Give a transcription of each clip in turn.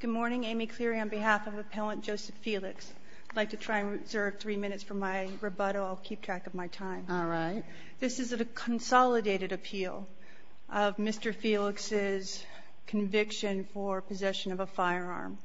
Good morning. Amy Cleary on behalf of Appellant Joseph Felix. I'd like to try and reserve three minutes for my rebuttal. I'll keep track of my time. All right. This is a consolidated appeal of Mr. Felix's conviction for possession of a firearm.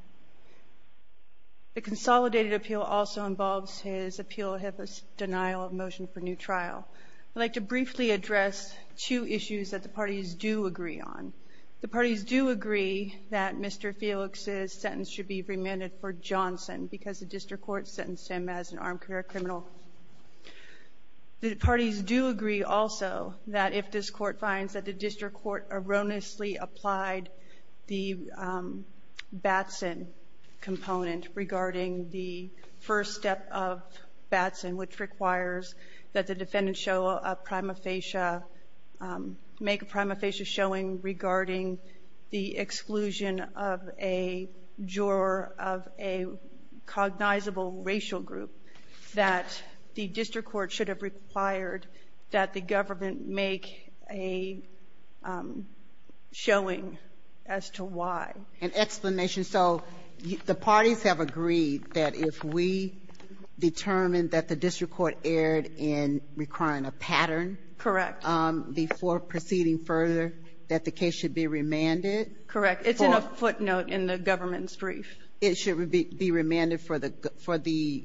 The consolidated appeal also involves his appeal of denial of motion for new trial. I'd like to briefly address two issues that the parties do agree on. The parties do agree that Mr. Felix's sentence should be remanded for Johnson because the district court sentenced him as an armed career criminal. The parties do agree also that if this court finds that the district court erroneously applied the Batson component regarding the first step of Batson, which requires that the defendant show a prima facie — make a prima facie showing regarding the exclusion of a juror of a cognizable racial group, that the district court should have required that the government make a showing as to why. An explanation. So the parties have agreed that if we determine that the district court erred in requiring a pattern. Correct. Before proceeding further, that the case should be remanded. Correct. It's in a footnote in the government's brief. It should be remanded for the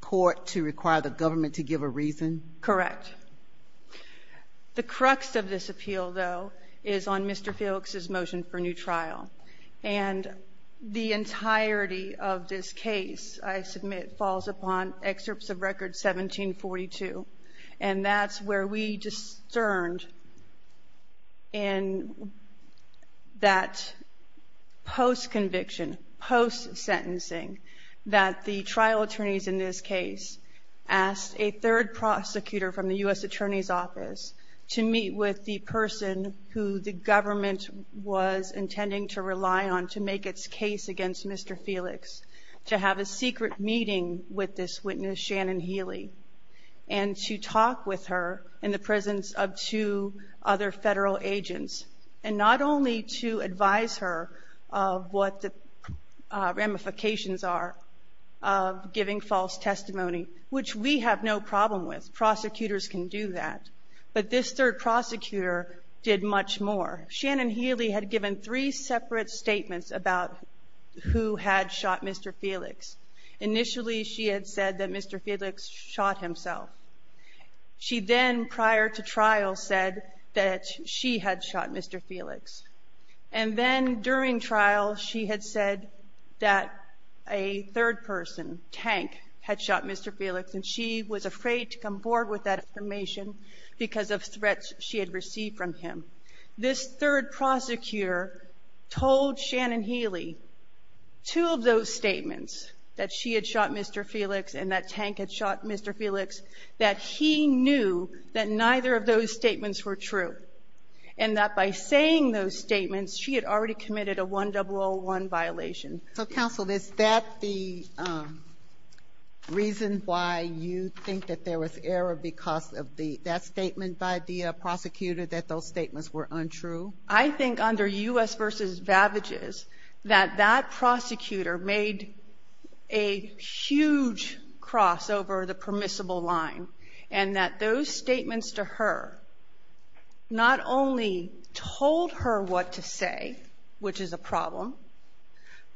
court to require the government to give a reason. Correct. The crux of this appeal, though, is on Mr. Felix's motion for new trial. And the entirety of this case, I submit, falls upon excerpts of Record 1742. And that's where we discerned in that post-conviction, post-sentencing, that the trial attorneys in this case asked a third prosecutor from the U.S. Attorney's Office to meet with the person who the government was intending to rely on to make its case against Mr. Felix, to have a secret meeting with this witness, Shannon Healy, and to talk with her in the presence of two other federal agents, and not only to advise her of what the ramifications are of giving false testimony, which we have no problem with. Prosecutors can do that. But this third prosecutor did much more. Shannon Healy had given three separate statements about who had shot Mr. Felix. Initially, she had said that Mr. Felix shot himself. She then, prior to trial, said that she had shot Mr. Felix. And then, during trial, she had said that a third person, Tank, had shot Mr. Felix, and she was afraid to come forward with that information because of threats she had received from him. This third prosecutor told Shannon Healy two of those statements, that she had shot Mr. Felix and that Tank had shot Mr. Felix, that he knew that neither of those statements were true, and that by saying those statements, she had already committed a 1001 violation. So, counsel, is that the reason why you think that there was error because of that statement by the prosecutor, that those statements were untrue? I think, under U.S. v. Vavages, that that prosecutor made a huge cross over the permissible line and that those statements to her not only told her what to say, which is a problem,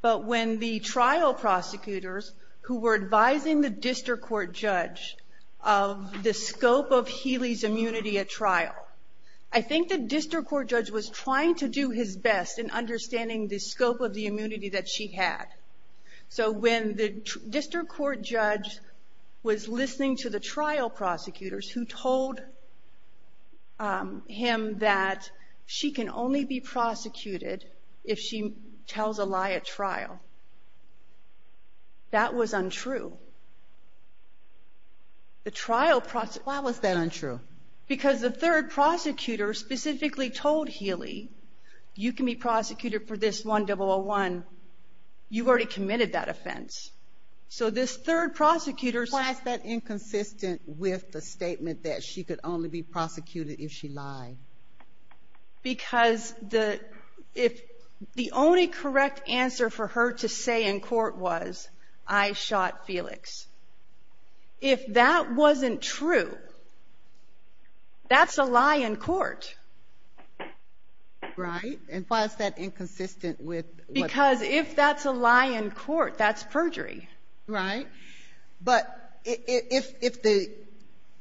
but when the trial prosecutors who were advising the district court judge of the scope of Healy's immunity at trial, I think the district court judge was trying to do his best in understanding the scope of the immunity that she had. So, when the district court judge was listening to the trial prosecutors who told him that she can only be prosecuted if she tells a lie at trial, that was untrue. Why was that untrue? Because the third prosecutor specifically told Healy, you can be prosecuted for this 1001. You've already committed that offense. So, this third prosecutor... Why is that inconsistent with the statement that she could only be prosecuted if she lied? Because the only correct answer for her to say in court was, I shot Felix. If that wasn't true, that's a lie in court. Right. And why is that inconsistent with what... Because if that's a lie in court, that's perjury. Right. But if the,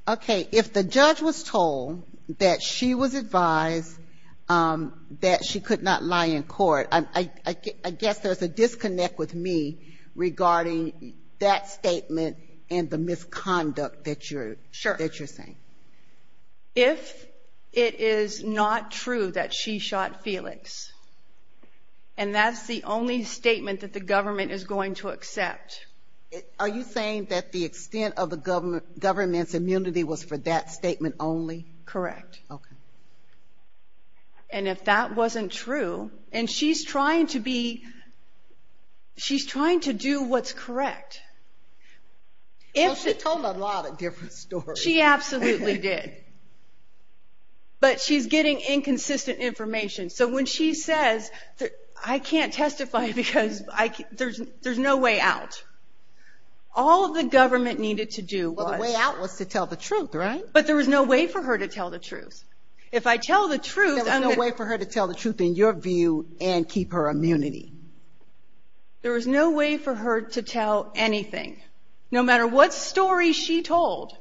okay, if the judge was told that she was advised that she could not lie in court, I guess there's a disconnect with me regarding that statement and the misconduct that you're saying. Sure. If it is not true that she shot Felix, and that's the only statement that the government is going to accept... Are you saying that the extent of the government's immunity was for that statement only? Correct. Okay. And if that wasn't true, and she's trying to be... She's trying to do what's correct. Well, she told a lot of different stories. She absolutely did. But she's getting inconsistent information. So, when she says, I can't testify because there's no way out. All the government needed to do was... Well, the way out was to tell the truth, right? But there was no way for her to tell the truth. If I tell the truth... There was no way for her to tell the truth, in your view, and keep her immunity. There was no way for her to tell anything. No matter what story she told,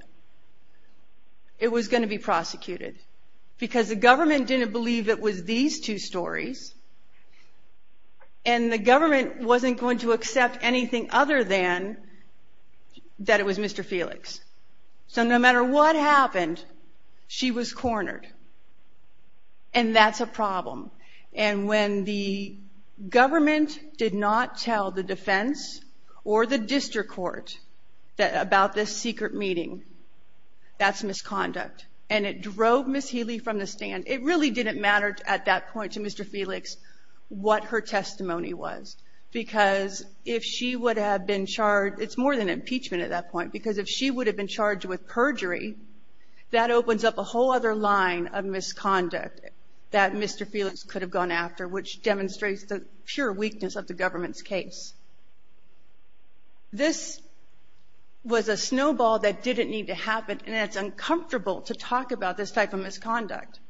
it was going to be prosecuted. Because the government didn't believe it was these two stories, and the government wasn't going to accept anything other than that it was Mr. Felix. So, no matter what happened, she was cornered. And that's a problem. And when the government did not tell the defense or the district court about this secret meeting, that's misconduct. And it drove Ms. Healy from the stand. It really didn't matter at that point to Mr. Felix what her testimony was. Because if she would have been charged, it's more than impeachment at that point, because if she would have been charged with perjury, that opens up a whole other line of misconduct that Mr. Felix could have gone after, which demonstrates the pure weakness of the government's case. This was a snowball that didn't need to happen, and it's uncomfortable to talk about this type of misconduct.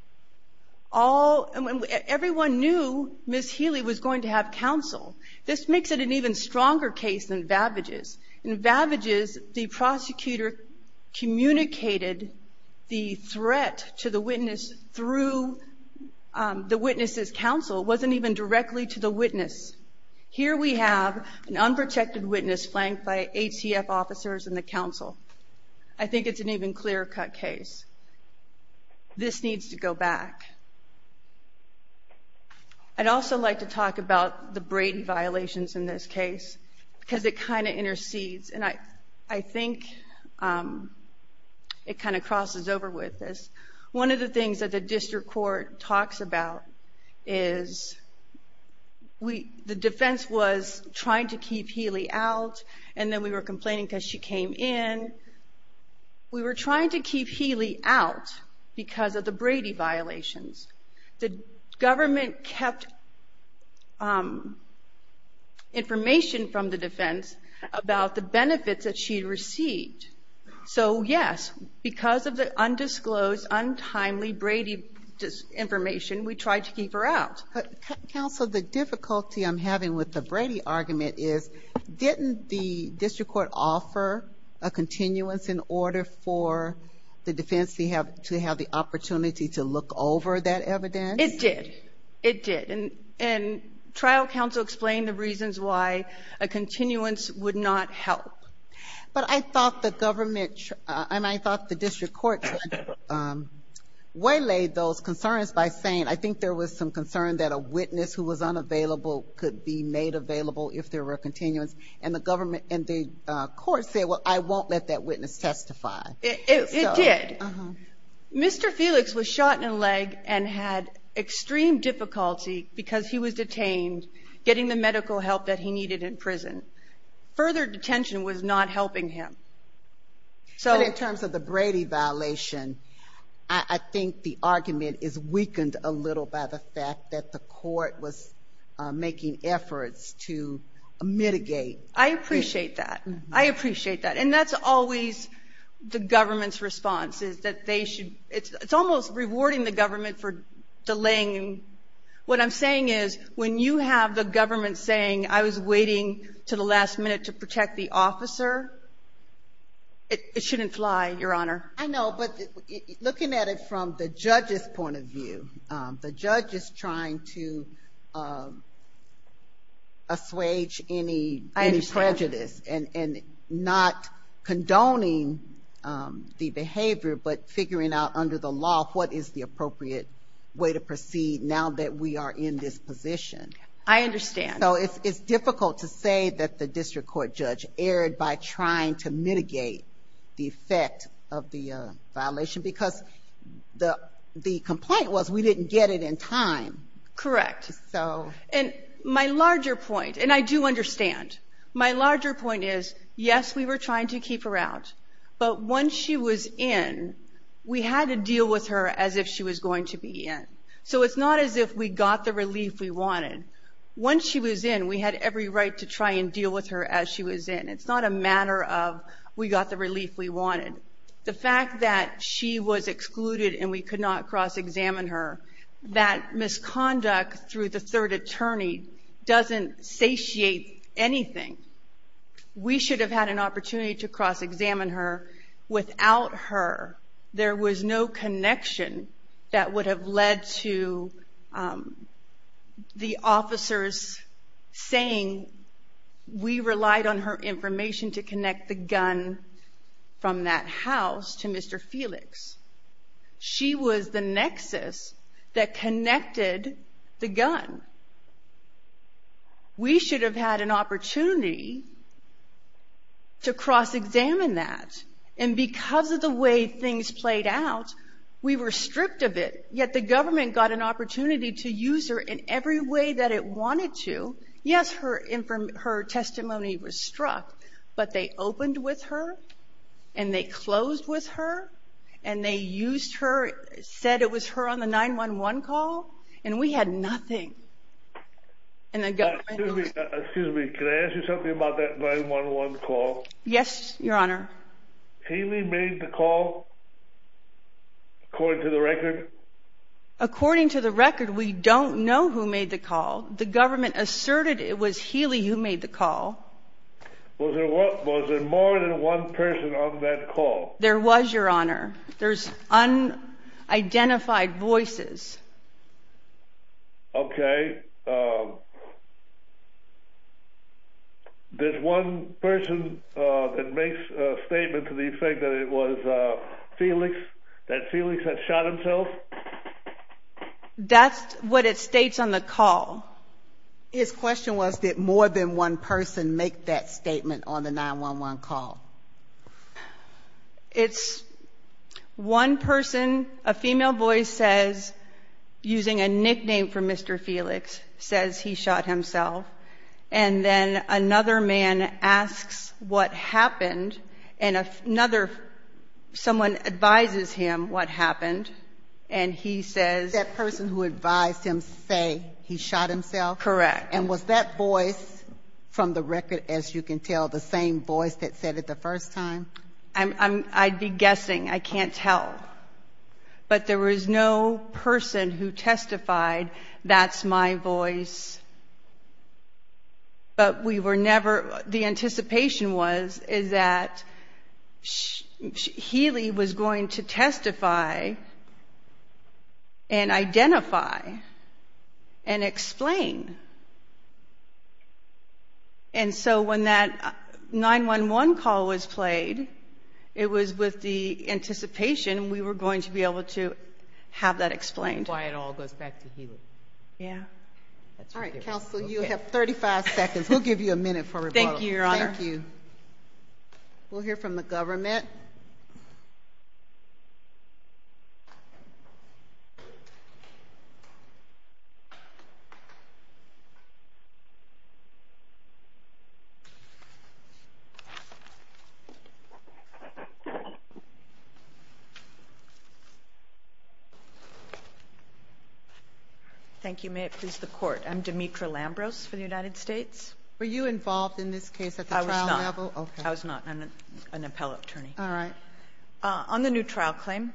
Everyone knew Ms. Healy was going to have counsel. This makes it an even stronger case than Vavage's. In Vavage's, the prosecutor communicated the threat to the witness through the witness's counsel. It wasn't even directly to the witness. Here we have an unprotected witness flanked by ATF officers and the counsel. I think it's an even clearer-cut case. This needs to go back. I'd also like to talk about the Brady violations in this case, because it kind of intercedes. I think it kind of crosses over with this. One of the things that the district court talks about is the defense was trying to keep Healy out, and then we were complaining because she came in. We were trying to keep Healy out because of the Brady violations. The government kept information from the defense about the benefits that she received. So, yes, because of the undisclosed, untimely Brady information, we tried to keep her out. Counsel, the difficulty I'm having with the Brady argument is, didn't the district court offer a continuance in order for the defense to have the opportunity to look over that evidence? It did. It did. And trial counsel explained the reasons why a continuance would not help. But I thought the government, and I thought the district court waylaid those concerns by saying, I think there was some concern that a witness who was unavailable could be made available if there were continuance. And the government and the court said, well, I won't let that witness testify. It did. Mr. Felix was shot in the leg and had extreme difficulty because he was detained, getting the medical help that he needed in prison. Further detention was not helping him. So in terms of the Brady violation, I think the argument is weakened a little by the fact that the court was making efforts to mitigate. I appreciate that. I appreciate that. And that's always the government's response, is that they should, it's almost rewarding the government for delaying. What I'm saying is, when you have the government saying, I was waiting to the last minute to protect the officer, it shouldn't fly, Your Honor. I know, but looking at it from the judge's point of view, the judge is trying to assuage any prejudice and not condoning the behavior, but figuring out under the law what is the appropriate way to proceed now that we are in this position. I understand. So it's difficult to say that the district court judge erred by trying to mitigate the effect of the violation, because the complaint was we didn't get it in time. Correct. And my larger point, and I do understand, my larger point is, yes, we were trying to keep her out. But once she was in, we had to deal with her as if she was going to be in. So it's not as if we got the relief we wanted. Once she was in, we had every right to try and deal with her as she was in. It's not a matter of we got the relief we wanted. The fact that she was excluded and we could not cross-examine her, that misconduct through the third attorney doesn't satiate anything. We should have had an opportunity to cross-examine her. Without her, there was no connection that would have led to the officers saying we relied on her information to connect the gun from that house to Mr. Felix. She was the nexus that connected the gun. We should have had an opportunity to cross-examine that. And because of the way things played out, we were stripped of it. Yet the government got an opportunity to use her in every way that it wanted to. Yes, her testimony was struck, but they opened with her and they closed with her and they used her, said it was her on the 911 call, and we had nothing. Excuse me, can I ask you something about that 911 call? Yes, Your Honor. Healy made the call, according to the record? According to the record, we don't know who made the call. The government asserted it was Healy who made the call. Was there more than one person on that call? There was, Your Honor. There's unidentified voices. Okay. There's one person that makes a statement to the effect that it was Felix, that Felix had shot himself? That's what it states on the call. His question was, did more than one person make that statement on the 911 call? It's one person, a female voice says, using a nickname for Mr. Felix, says he shot himself, and then another man asks what happened, and another someone advises him what happened, and he says... He shot himself? Correct. And was that voice from the record, as you can tell, the same voice that said it the first time? I'd be guessing. I can't tell, but there was no person who testified, that's my voice, but we were never... And so when that 911 call was played, it was with the anticipation we were going to be able to have that explained. That's why it all goes back to Healy. Yeah. All right, counsel, you have 35 seconds. We'll give you a minute for rebuttal. Thank you, Your Honor. Thank you. We'll hear from the government. Thank you. May it please the Court, I'm Demetra Lambros for the United States. Were you involved in this case at the trial level? I was not. Okay. I was not. I'm an appellate attorney. All right. On the new trial claim,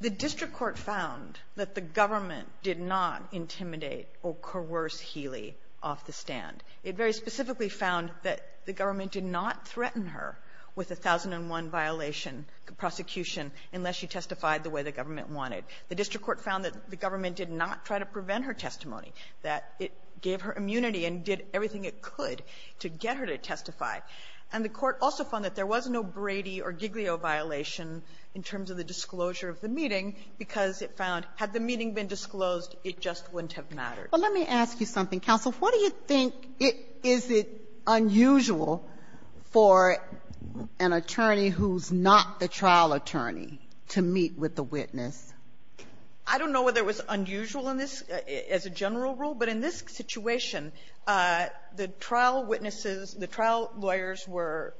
the district court found that the government did not intimidate or coerce Healy off the stand. It very specifically found that the government did not threaten her with a 1001-violation prosecution unless she testified the way the government wanted. The district court found that the government did not try to prevent her testimony, that it gave her immunity and did everything it could to get her to testify. And the court also found that there was no Brady or Giglio violation in terms of the disclosure of the meeting because it found, had the meeting been disclosed, it just wouldn't have mattered. But let me ask you something, counsel. What do you think, is it unusual for an attorney who's not the trial attorney to meet with the witness? I don't know whether it was unusual in this as a general rule, but in this situation, the trial witnesses, the trial lawyers were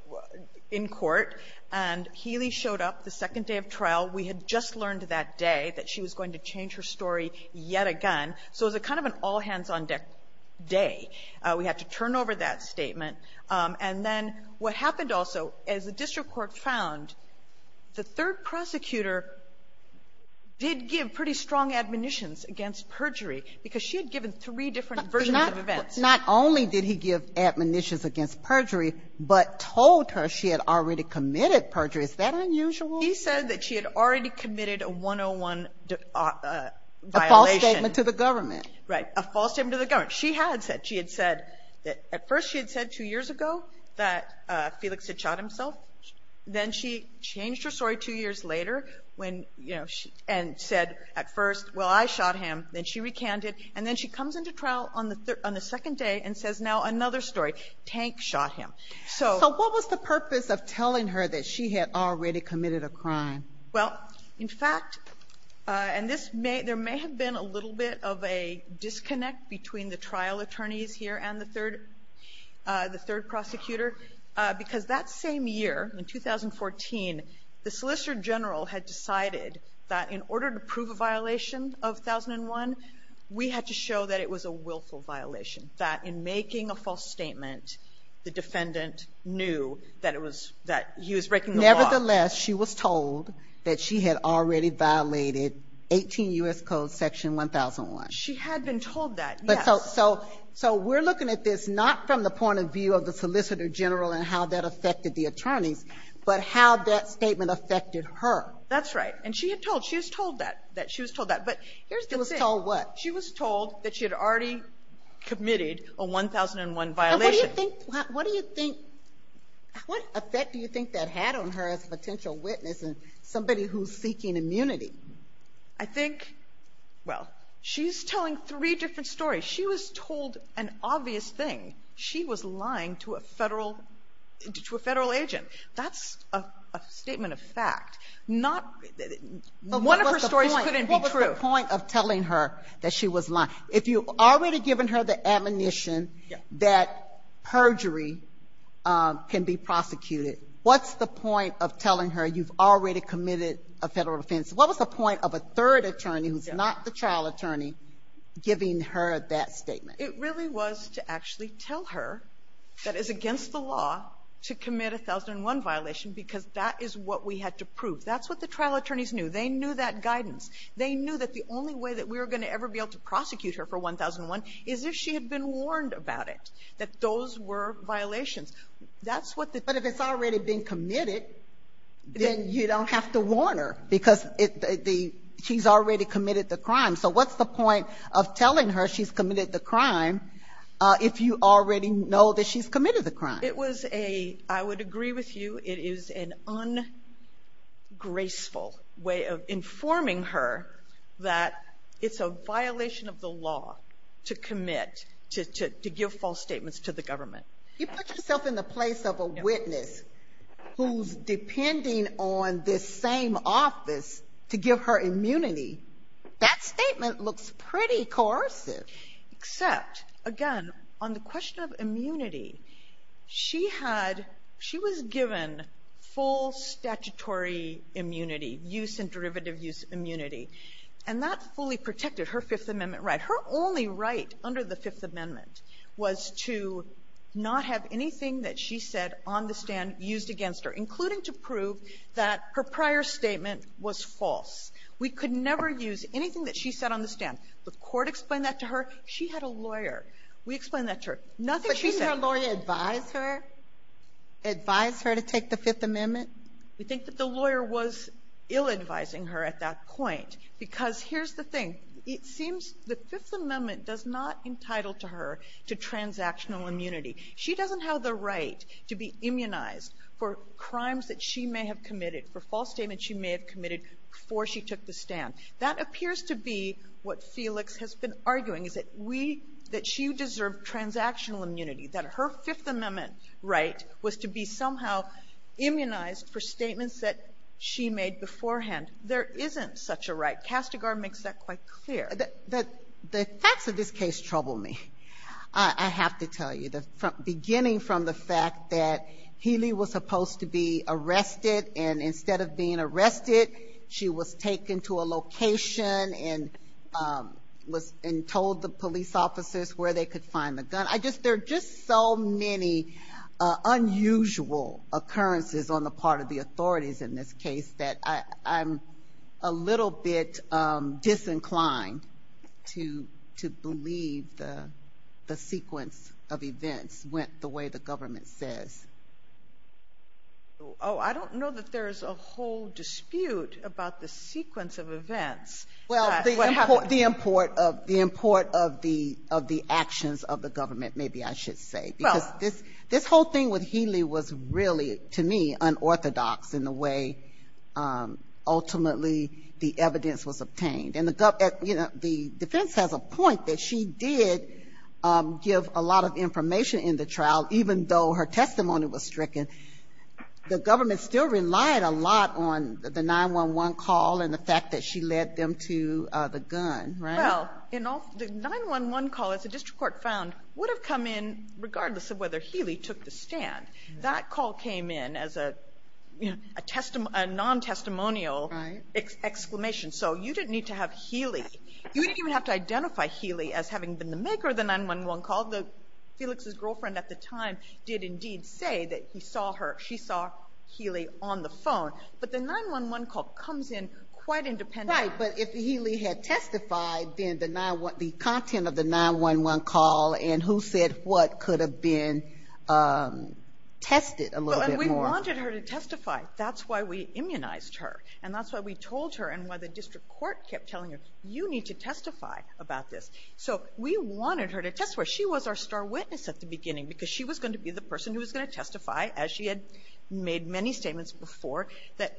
in court, and Healy showed up the second day of trial. We had just learned that day that she was going to change her story yet again. So it was kind of an all-hands-on-deck day. We had to turn over that statement. And then what happened also is the district court found the third prosecutor did give pretty strong admonitions against perjury because she had given three different versions of events. But not only did he give admonitions against perjury, but told her she had already committed perjury. Is that unusual? He said that she had already committed a 101 violation. A false statement to the government. Right. A false statement to the government. She had said, she had said that at first she had said two years ago that Felix had shot himself. Then she changed her story two years later when, you know, and said at first, well, I shot him. Then she recanted. And then she comes into trial on the second day and says now another story. Tank shot him. So what was the purpose of telling her that she had already committed a crime? Well, in fact, and this may, there may have been a little bit of a disconnect between the trial attorneys here and the third, the third prosecutor, because that same year, in 2014, the solicitor general had decided that in order to prove a violation of 1001, we had to show that it was a willful violation. That in making a false statement, the defendant knew that it was, that he was breaking the law. Nevertheless, she was told that she had already violated 18 U.S. Code section 1001. She had been told that, yes. So we're looking at this not from the point of view of the solicitor general and how that affected the attorneys, but how that statement affected her. That's right. And she had told, she was told that, that she was told that. But here's the thing. She was told what? She was told that she had already committed a 1001 violation. What do you think, what effect do you think that had on her as a potential witness and somebody who's seeking immunity? I think, well, she's telling three different stories. She was told an obvious thing. She was lying to a Federal, to a Federal agent. That's a statement of fact. Not, one of her stories couldn't be true. What was the point of telling her that she was lying? If you've already given her the admonition that perjury can be prosecuted, what's the point of telling her you've already committed a Federal offense? What was the point of a third attorney who's not the trial attorney giving her that statement? It really was to actually tell her that it's against the law to commit a 1001 violation, because that is what we had to prove. That's what the trial attorneys knew. They knew that guidance. They knew that the only way that we were going to ever be able to prosecute her for 1001 is if she had been warned about it, that those were violations. That's what the ---- But if it's already been committed, then you don't have to warn her, because she's already committed the crime. So what's the point of telling her she's committed the crime if you already know that she's committed the crime? It was a, I would agree with you, it is an ungraceful way of informing her that it's a violation of the law to commit, to give false statements to the government. You put yourself in the place of a witness who's depending on this same office to give her immunity. That statement looks pretty coercive. Except, again, on the question of immunity, she had, she was given full statutory immunity, use and derivative use immunity. And that fully protected her Fifth Amendment right. Her only right under the Fifth Amendment was to not have anything that she said on the stand used against her, including to prove that her prior statement was false. And the court explained that to her. She had a lawyer. We explained that to her. Nothing she said. But didn't her lawyer advise her? Advise her to take the Fifth Amendment? We think that the lawyer was ill-advising her at that point. Because here's the thing. It seems the Fifth Amendment does not entitle to her to transactional immunity. She doesn't have the right to be immunized for crimes that she may have committed, for false statements she may have committed before she took the stand. That appears to be what Felix has been arguing, is that we, that she deserved transactional immunity, that her Fifth Amendment right was to be somehow immunized for statements that she made beforehand. There isn't such a right. Castigar makes that quite clear. The facts of this case trouble me, I have to tell you. Beginning from the fact that Healy was supposed to be arrested, and instead of being told the police officers where they could find the gun. There are just so many unusual occurrences on the part of the authorities in this case that I'm a little bit disinclined to believe the sequence of events went the way the government says. Oh, I don't know that there's a whole dispute about the sequence of events. Well, the import of the actions of the government, maybe I should say. Because this whole thing with Healy was really, to me, unorthodox in the way ultimately the evidence was obtained. And the defense has a point that she did give a lot of information in the trial, even though her testimony was stricken, the government still relied a lot on the 911 call and the fact that she led them to the gun, right? Well, the 911 call, as the district court found, would have come in regardless of whether Healy took the stand. That call came in as a non-testimonial exclamation. So you didn't need to have Healy, you didn't even have to identify Healy as having been the maker of the 911 call. Felix's girlfriend at the time did indeed say that he saw her, she saw Healy on the phone. But the 911 call comes in quite independently. Right, but if Healy had testified, then the content of the 911 call and who said what could have been tested a little bit more. Well, and we wanted her to testify. That's why we immunized her. And that's why we told her and why the district court kept telling her, you need to testify about this. So we wanted her to testify. She was our star witness at the beginning because she was going to be the person who was going to testify, as she had made many statements before, that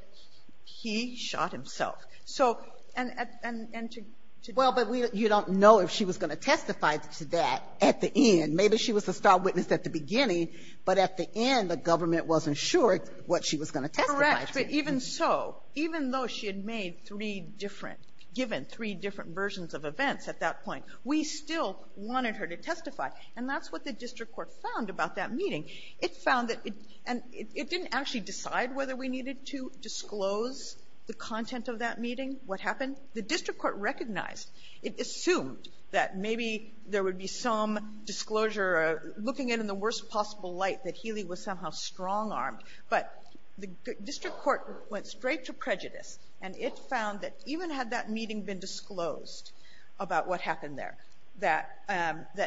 he shot himself. So, and to do that. Well, but you don't know if she was going to testify to that at the end. Maybe she was the star witness at the beginning, but at the end, the government wasn't sure what she was going to testify to. Correct. But even so, even though she had made three different, given three different versions of events at that point, we still wanted her to testify. And that's what the district court found about that meeting. It found that, and it didn't actually decide whether we needed to disclose the content of that meeting, what happened. The district court recognized, it assumed that maybe there would be some disclosure, looking at it in the worst possible light, that Healy was somehow strong-armed. But the district court went straight to prejudice, and it found that even had that meeting been disclosed about what happened there, that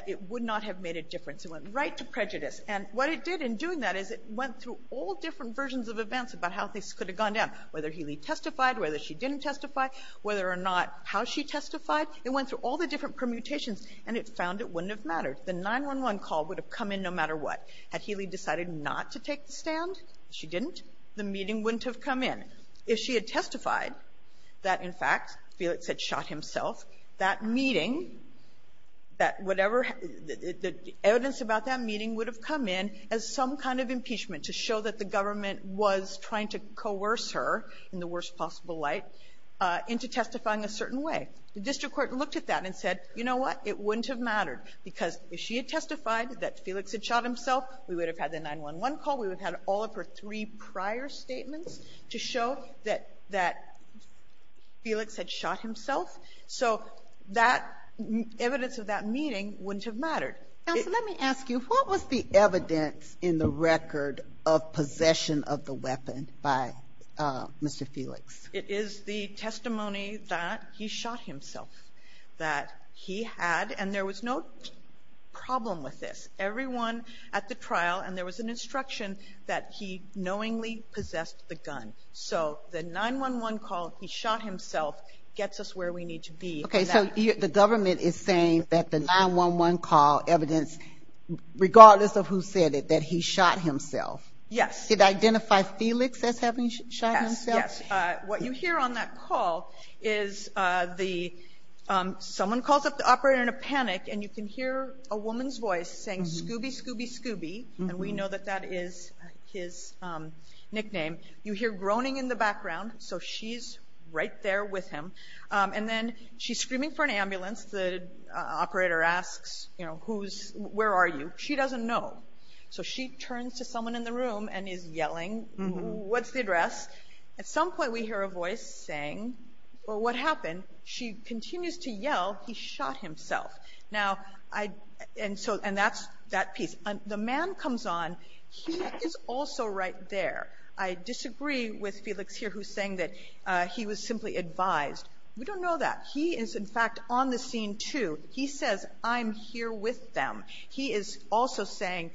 it would not have made a difference. It went right to prejudice. And what it did in doing that is it went through all different versions of events about how things could have gone down, whether Healy testified, whether she didn't testify, whether or not how she testified. It went through all the different permutations, and it found it wouldn't have mattered. The 911 call would have come in no matter what. Had Healy decided not to take the stand, she didn't, the meeting wouldn't have come in. If she had testified that, in fact, Felix had shot himself, that meeting, that whatever the evidence about that meeting would have come in as some kind of impeachment to show that the government was trying to coerce her in the worst possible light into testifying a certain way. The district court looked at that and said, you know what, it wouldn't have mattered because if she had testified that Felix had shot himself, we would have had the 911 call. We would have had all of her three prior statements to show that Felix had shot himself. So that evidence of that meeting wouldn't have mattered. Ginsburg. Counsel, let me ask you, what was the evidence in the record of possession of the weapon by Mr. Felix? It is the testimony that he shot himself, that he had, and there was no problem with this. Everyone at the trial, and there was an instruction that he knowingly possessed the gun. So the 911 call, he shot himself, gets us where we need to be. Okay. So the government is saying that the 911 call evidence, regardless of who said it, that he shot himself. Yes. Did it identify Felix as having shot himself? Yes. What you hear on that call is the, someone calls up the operator in a panic, and you can hear a woman's voice saying, Scooby, Scooby, Scooby, and we know that that is his nickname. You hear groaning in the background, so she's right there with him, and then she's screaming for an ambulance. The operator asks, you know, where are you? She doesn't know. So she turns to someone in the room and is yelling, what's the address? At some point we hear a voice saying, well, what happened? She continues to yell, he shot himself. Now, and that's that piece. The man comes on, he is also right there. I disagree with Felix here who's saying that he was simply advised. We don't know that. He is, in fact, on the scene, too. He says, I'm here with them. He is also saying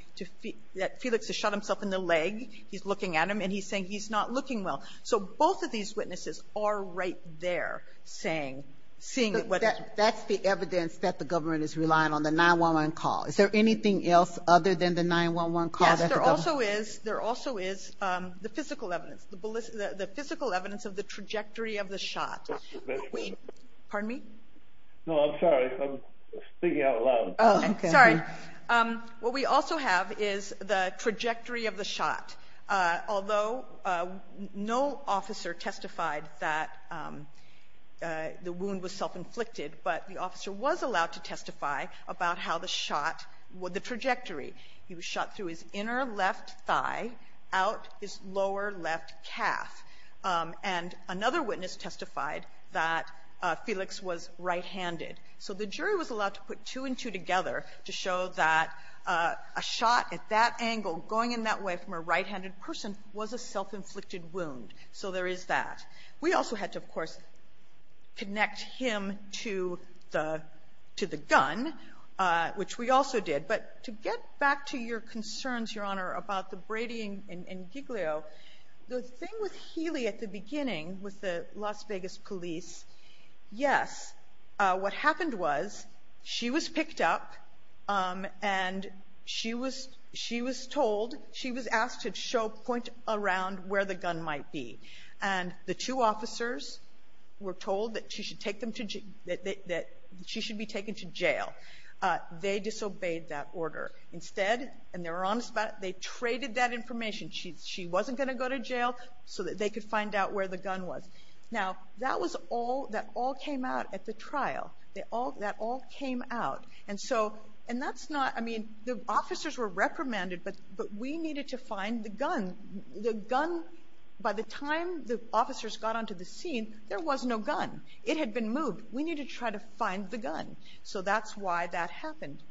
that Felix has shot himself in the leg. He's looking at him, and he's saying he's not looking well. So both of these witnesses are right there saying, seeing what the ---- That's the evidence that the government is relying on, the 911 call. Is there anything else other than the 911 call that the government ---- There also is the physical evidence, the physical evidence of the trajectory of the shot. Pardon me? No, I'm sorry. I'm speaking out loud. Sorry. What we also have is the trajectory of the shot. Although no officer testified that the wound was self-inflicted, but the officer was allowed to testify about how the shot, the trajectory. He was shot through his inner left thigh, out his lower left calf. And another witness testified that Felix was right-handed. So the jury was allowed to put two and two together to show that a shot at that angle, going in that way from a right-handed person, was a self-inflicted wound. So there is that. We also had to, of course, connect him to the gun, which we also did. But to get back to your concerns, Your Honor, about the Brady and Giglio, the thing with Healy at the beginning with the Las Vegas police, yes, what happened was she was picked up and she was told, she was asked to point around where the gun might be. And the two officers were told that she should be taken to jail. They disobeyed that order. Instead, and they were honest about it, they traded that information. She wasn't going to go to jail so that they could find out where the gun was. Now, that all came out at the trial. That all came out. And that's not, I mean, the officers were reprimanded, but we needed to find the gun. The gun, by the time the officers got onto the scene, there was no gun. It had been moved. We needed to try to find the gun. So that's why that happened.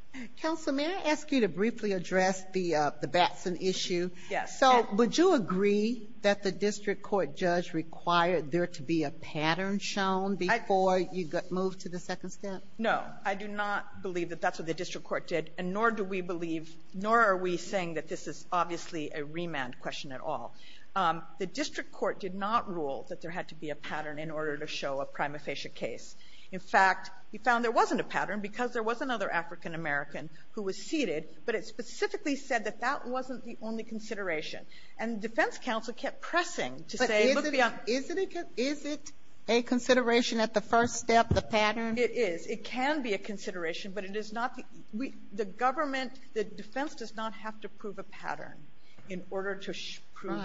Counsel, may I ask you to briefly address the Batson issue? Yes. So would you agree that the district court judge required there to be a pattern shown before you got moved to the second step? No. I do not believe that that's what the district court did, and nor do we believe, nor are we saying that this is obviously a remand question at all. The district court did not rule that there had to be a pattern in order to show a prima facie case. In fact, he found there wasn't a pattern because there was another African-American who was seated, but it specifically said that that wasn't the only consideration. And the defense counsel kept pressing to say, look beyond the question. But is it a consideration at the first step, the pattern? It is. It can be a consideration, but it is not. The government, the defense does not have to prove a pattern in order to prove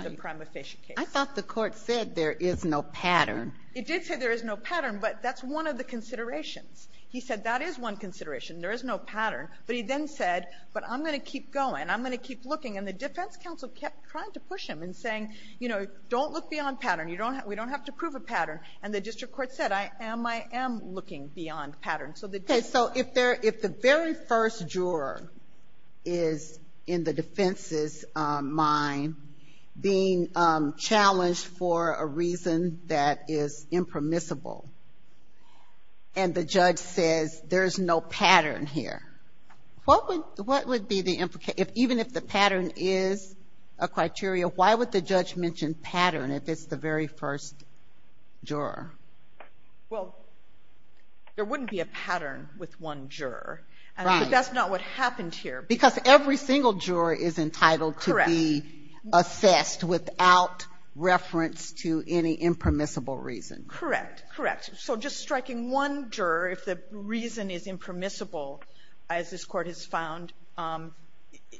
I thought the Court said there is no pattern. It did say there is no pattern, but that's one of the considerations. He said that is one consideration. There is no pattern. But he then said, but I'm going to keep going. I'm going to keep looking. And the defense counsel kept trying to push him and saying, you know, don't look beyond pattern. We don't have to prove a pattern. And the district court said, I am, I am looking beyond pattern. Okay. So if the very first juror is in the defense's mind being challenged for a reason that is impermissible, and the judge says there is no pattern here, what would, what would be the, even if the pattern is a criteria, why would the judge mention pattern if it's the very first juror? Well, there wouldn't be a pattern with one juror. Right. But that's not what happened here. Because every single juror is entitled to be assessed without reference to any impermissible reason. Correct. Correct. So just striking one juror, if the reason is impermissible, as this Court has found,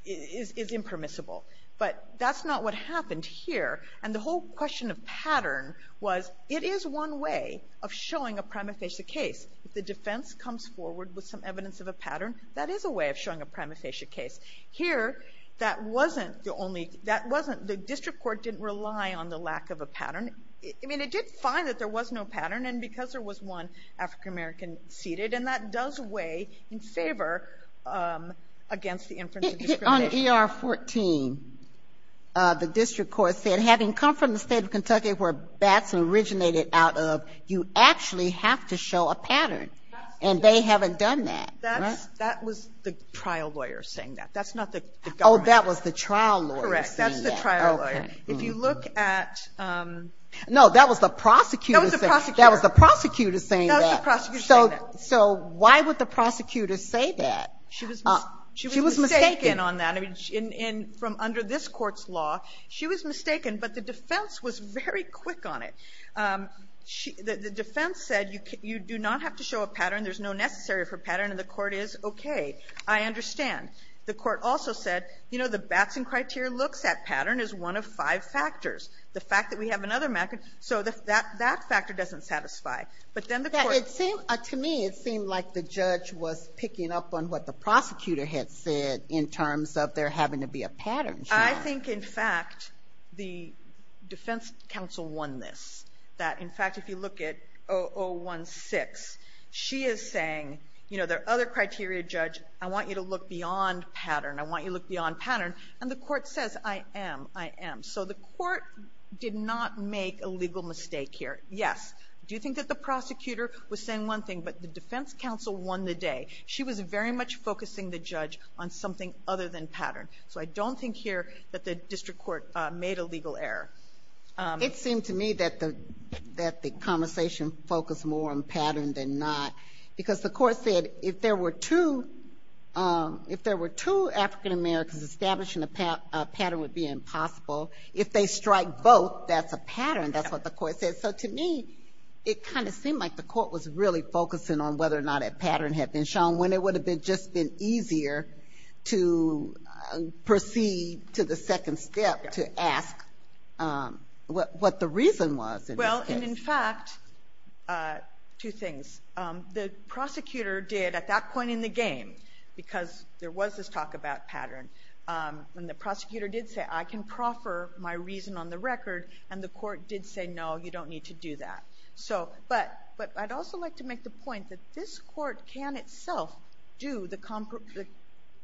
is impermissible. But that's not what happened here. And the whole question of pattern was, it is one way of showing a prima facie case. If the defense comes forward with some evidence of a pattern, that is a way of showing a prima facie case. Here, that wasn't the only, that wasn't, the district court didn't rely on the lack of a pattern. I mean, it did find that there was no pattern, and because there was one African-American seated, and that does weigh in favor against the inference of discrimination. On ER 14, the district court said, having come from the State of Kentucky where BATS originated out of, you actually have to show a pattern. And they haven't done that. That was the trial lawyer saying that. That's not the government. Oh, that was the trial lawyer saying that. Correct. That's the trial lawyer. Okay. If you look at the prosecutor. No, that was the prosecutor. That was the prosecutor. That was the prosecutor saying that. That was the prosecutor saying that. So why would the prosecutor say that? She was mistaken. She was mistaken on that. I mean, from under this Court's law, she was mistaken, but the defense was very quick on it. The defense said, you do not have to show a pattern, there's no necessary for pattern, and the court is okay. I understand. The court also said, you know, the BATS and criteria looks at pattern is one of five factors. The fact that we have another method, so that factor doesn't satisfy. But then the court. It seemed, to me, it seemed like the judge was picking up on what the prosecutor had said in terms of there having to be a pattern. I think, in fact, the defense counsel won this. That, in fact, if you look at O016, she is saying, you know, there are other criteria, judge. I want you to look beyond pattern. I want you to look beyond pattern. And the court says, I am. I am. So the court did not make a legal mistake here. Yes. Do you think that the prosecutor was saying one thing, but the defense counsel won the day. She was very much focusing the judge on something other than pattern. So I don't think here that the district court made a legal error. It seemed to me that the conversation focused more on pattern than not. Because the court said if there were two, if there were two African-Americans establishing a pattern, it would be impossible. If they strike both, that's a pattern. That's what the court said. So to me, it kind of seemed like the court was really focusing on whether or not a pattern had been shown, when it would have just been easier to proceed to the second step, to ask what the reason was in this case. Well, and in fact, two things. The prosecutor did at that point in the game, because there was this talk about pattern, and the prosecutor did say, I can proffer my reason on the record. And the court did say, no, you don't need to do that. But I'd also like to make the point that this court can itself do the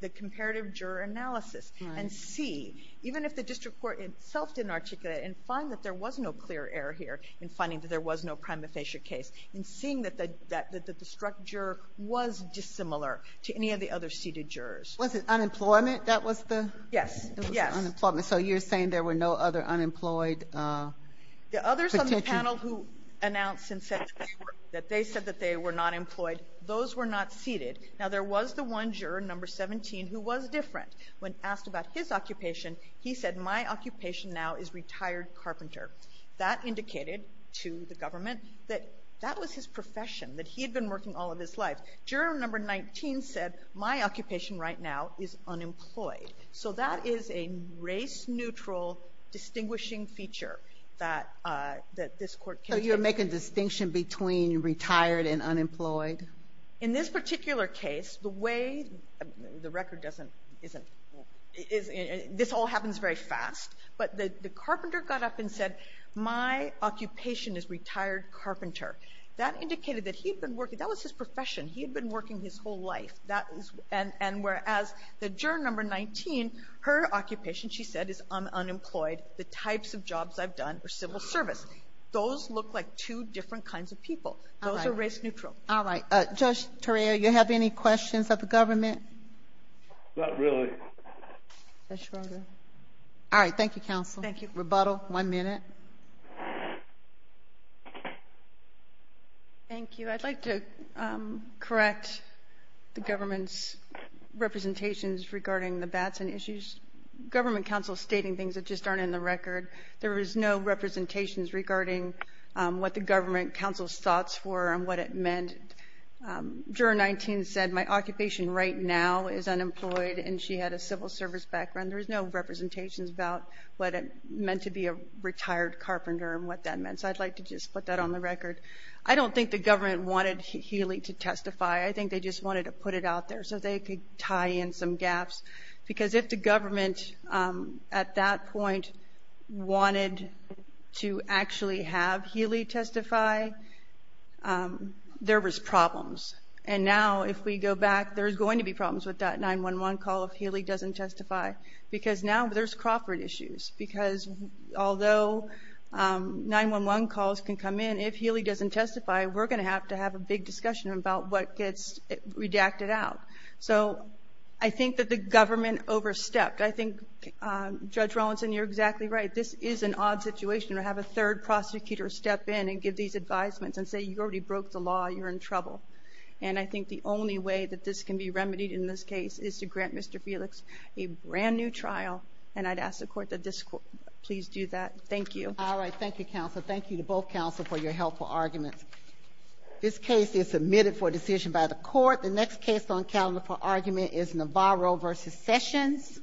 comparative juror analysis and see, even if the district court itself didn't articulate it, and find that there was no clear error here in finding that there was no prima facie case, and seeing that the structure was dissimilar to any of the other seated jurors. Was it unemployment that was the? Yes. Yes. Unemployment. So you're saying there were no other unemployed? The others on the panel who announced and said to the court that they said that they were not employed, those were not seated. Now, there was the one juror, number 17, who was different. When asked about his occupation, he said, my occupation now is retired carpenter. That indicated to the government that that was his profession, that he had been working all of his life. Juror number 19 said, my occupation right now is unemployed. So that is a race-neutral distinguishing feature that this court can. So you're making a distinction between retired and unemployed? In this particular case, the way the record doesn't, isn't, this all happens very fast, but the carpenter got up and said, my occupation is retired carpenter. That indicated that he had been working, that was his profession. He had been working his whole life. And whereas the juror number 19, her occupation, she said, is unemployed, the types of jobs I've done are civil service. Those look like two different kinds of people. Those are race-neutral. All right. Judge Torreira, you have any questions of the government? Not really. All right. Thank you, counsel. Thank you. Rebuttal, one minute. Thank you. I'd like to correct the government's representations regarding the Batson issues. Government counsel is stating things that just aren't in the record. There is no representations regarding what the government counsel's thoughts were and what it meant. Juror 19 said, my occupation right now is unemployed, and she had a civil service background. There is no representations about what it meant to be a retired carpenter and what that meant. So I'd like to just put that on the record. I don't think the government wanted Healy to testify. I think they just wanted to put it out there so they could tie in some gaps. Because if the government at that point wanted to actually have Healy testify, there was problems. And now if we go back, there's going to be problems with that 911 call if Healy doesn't testify. Because now there's Crawford issues. Because although 911 calls can come in, if Healy doesn't testify, we're going to have to have a big discussion about what gets redacted out. So I think that the government overstepped. I think, Judge Rawlinson, you're exactly right. This is an odd situation to have a third prosecutor step in and give these advisements and say you already broke the law, you're in trouble. And I think the only way that this can be remedied in this case is to grant Mr. Felix a brand-new trial, and I'd ask the court that this court please do that. Thank you. All right. Thank you, counsel. Thank you to both counsel for your helpful arguments. This case is submitted for decision by the court. The next case on calendar for argument is Navarro v. Sessions.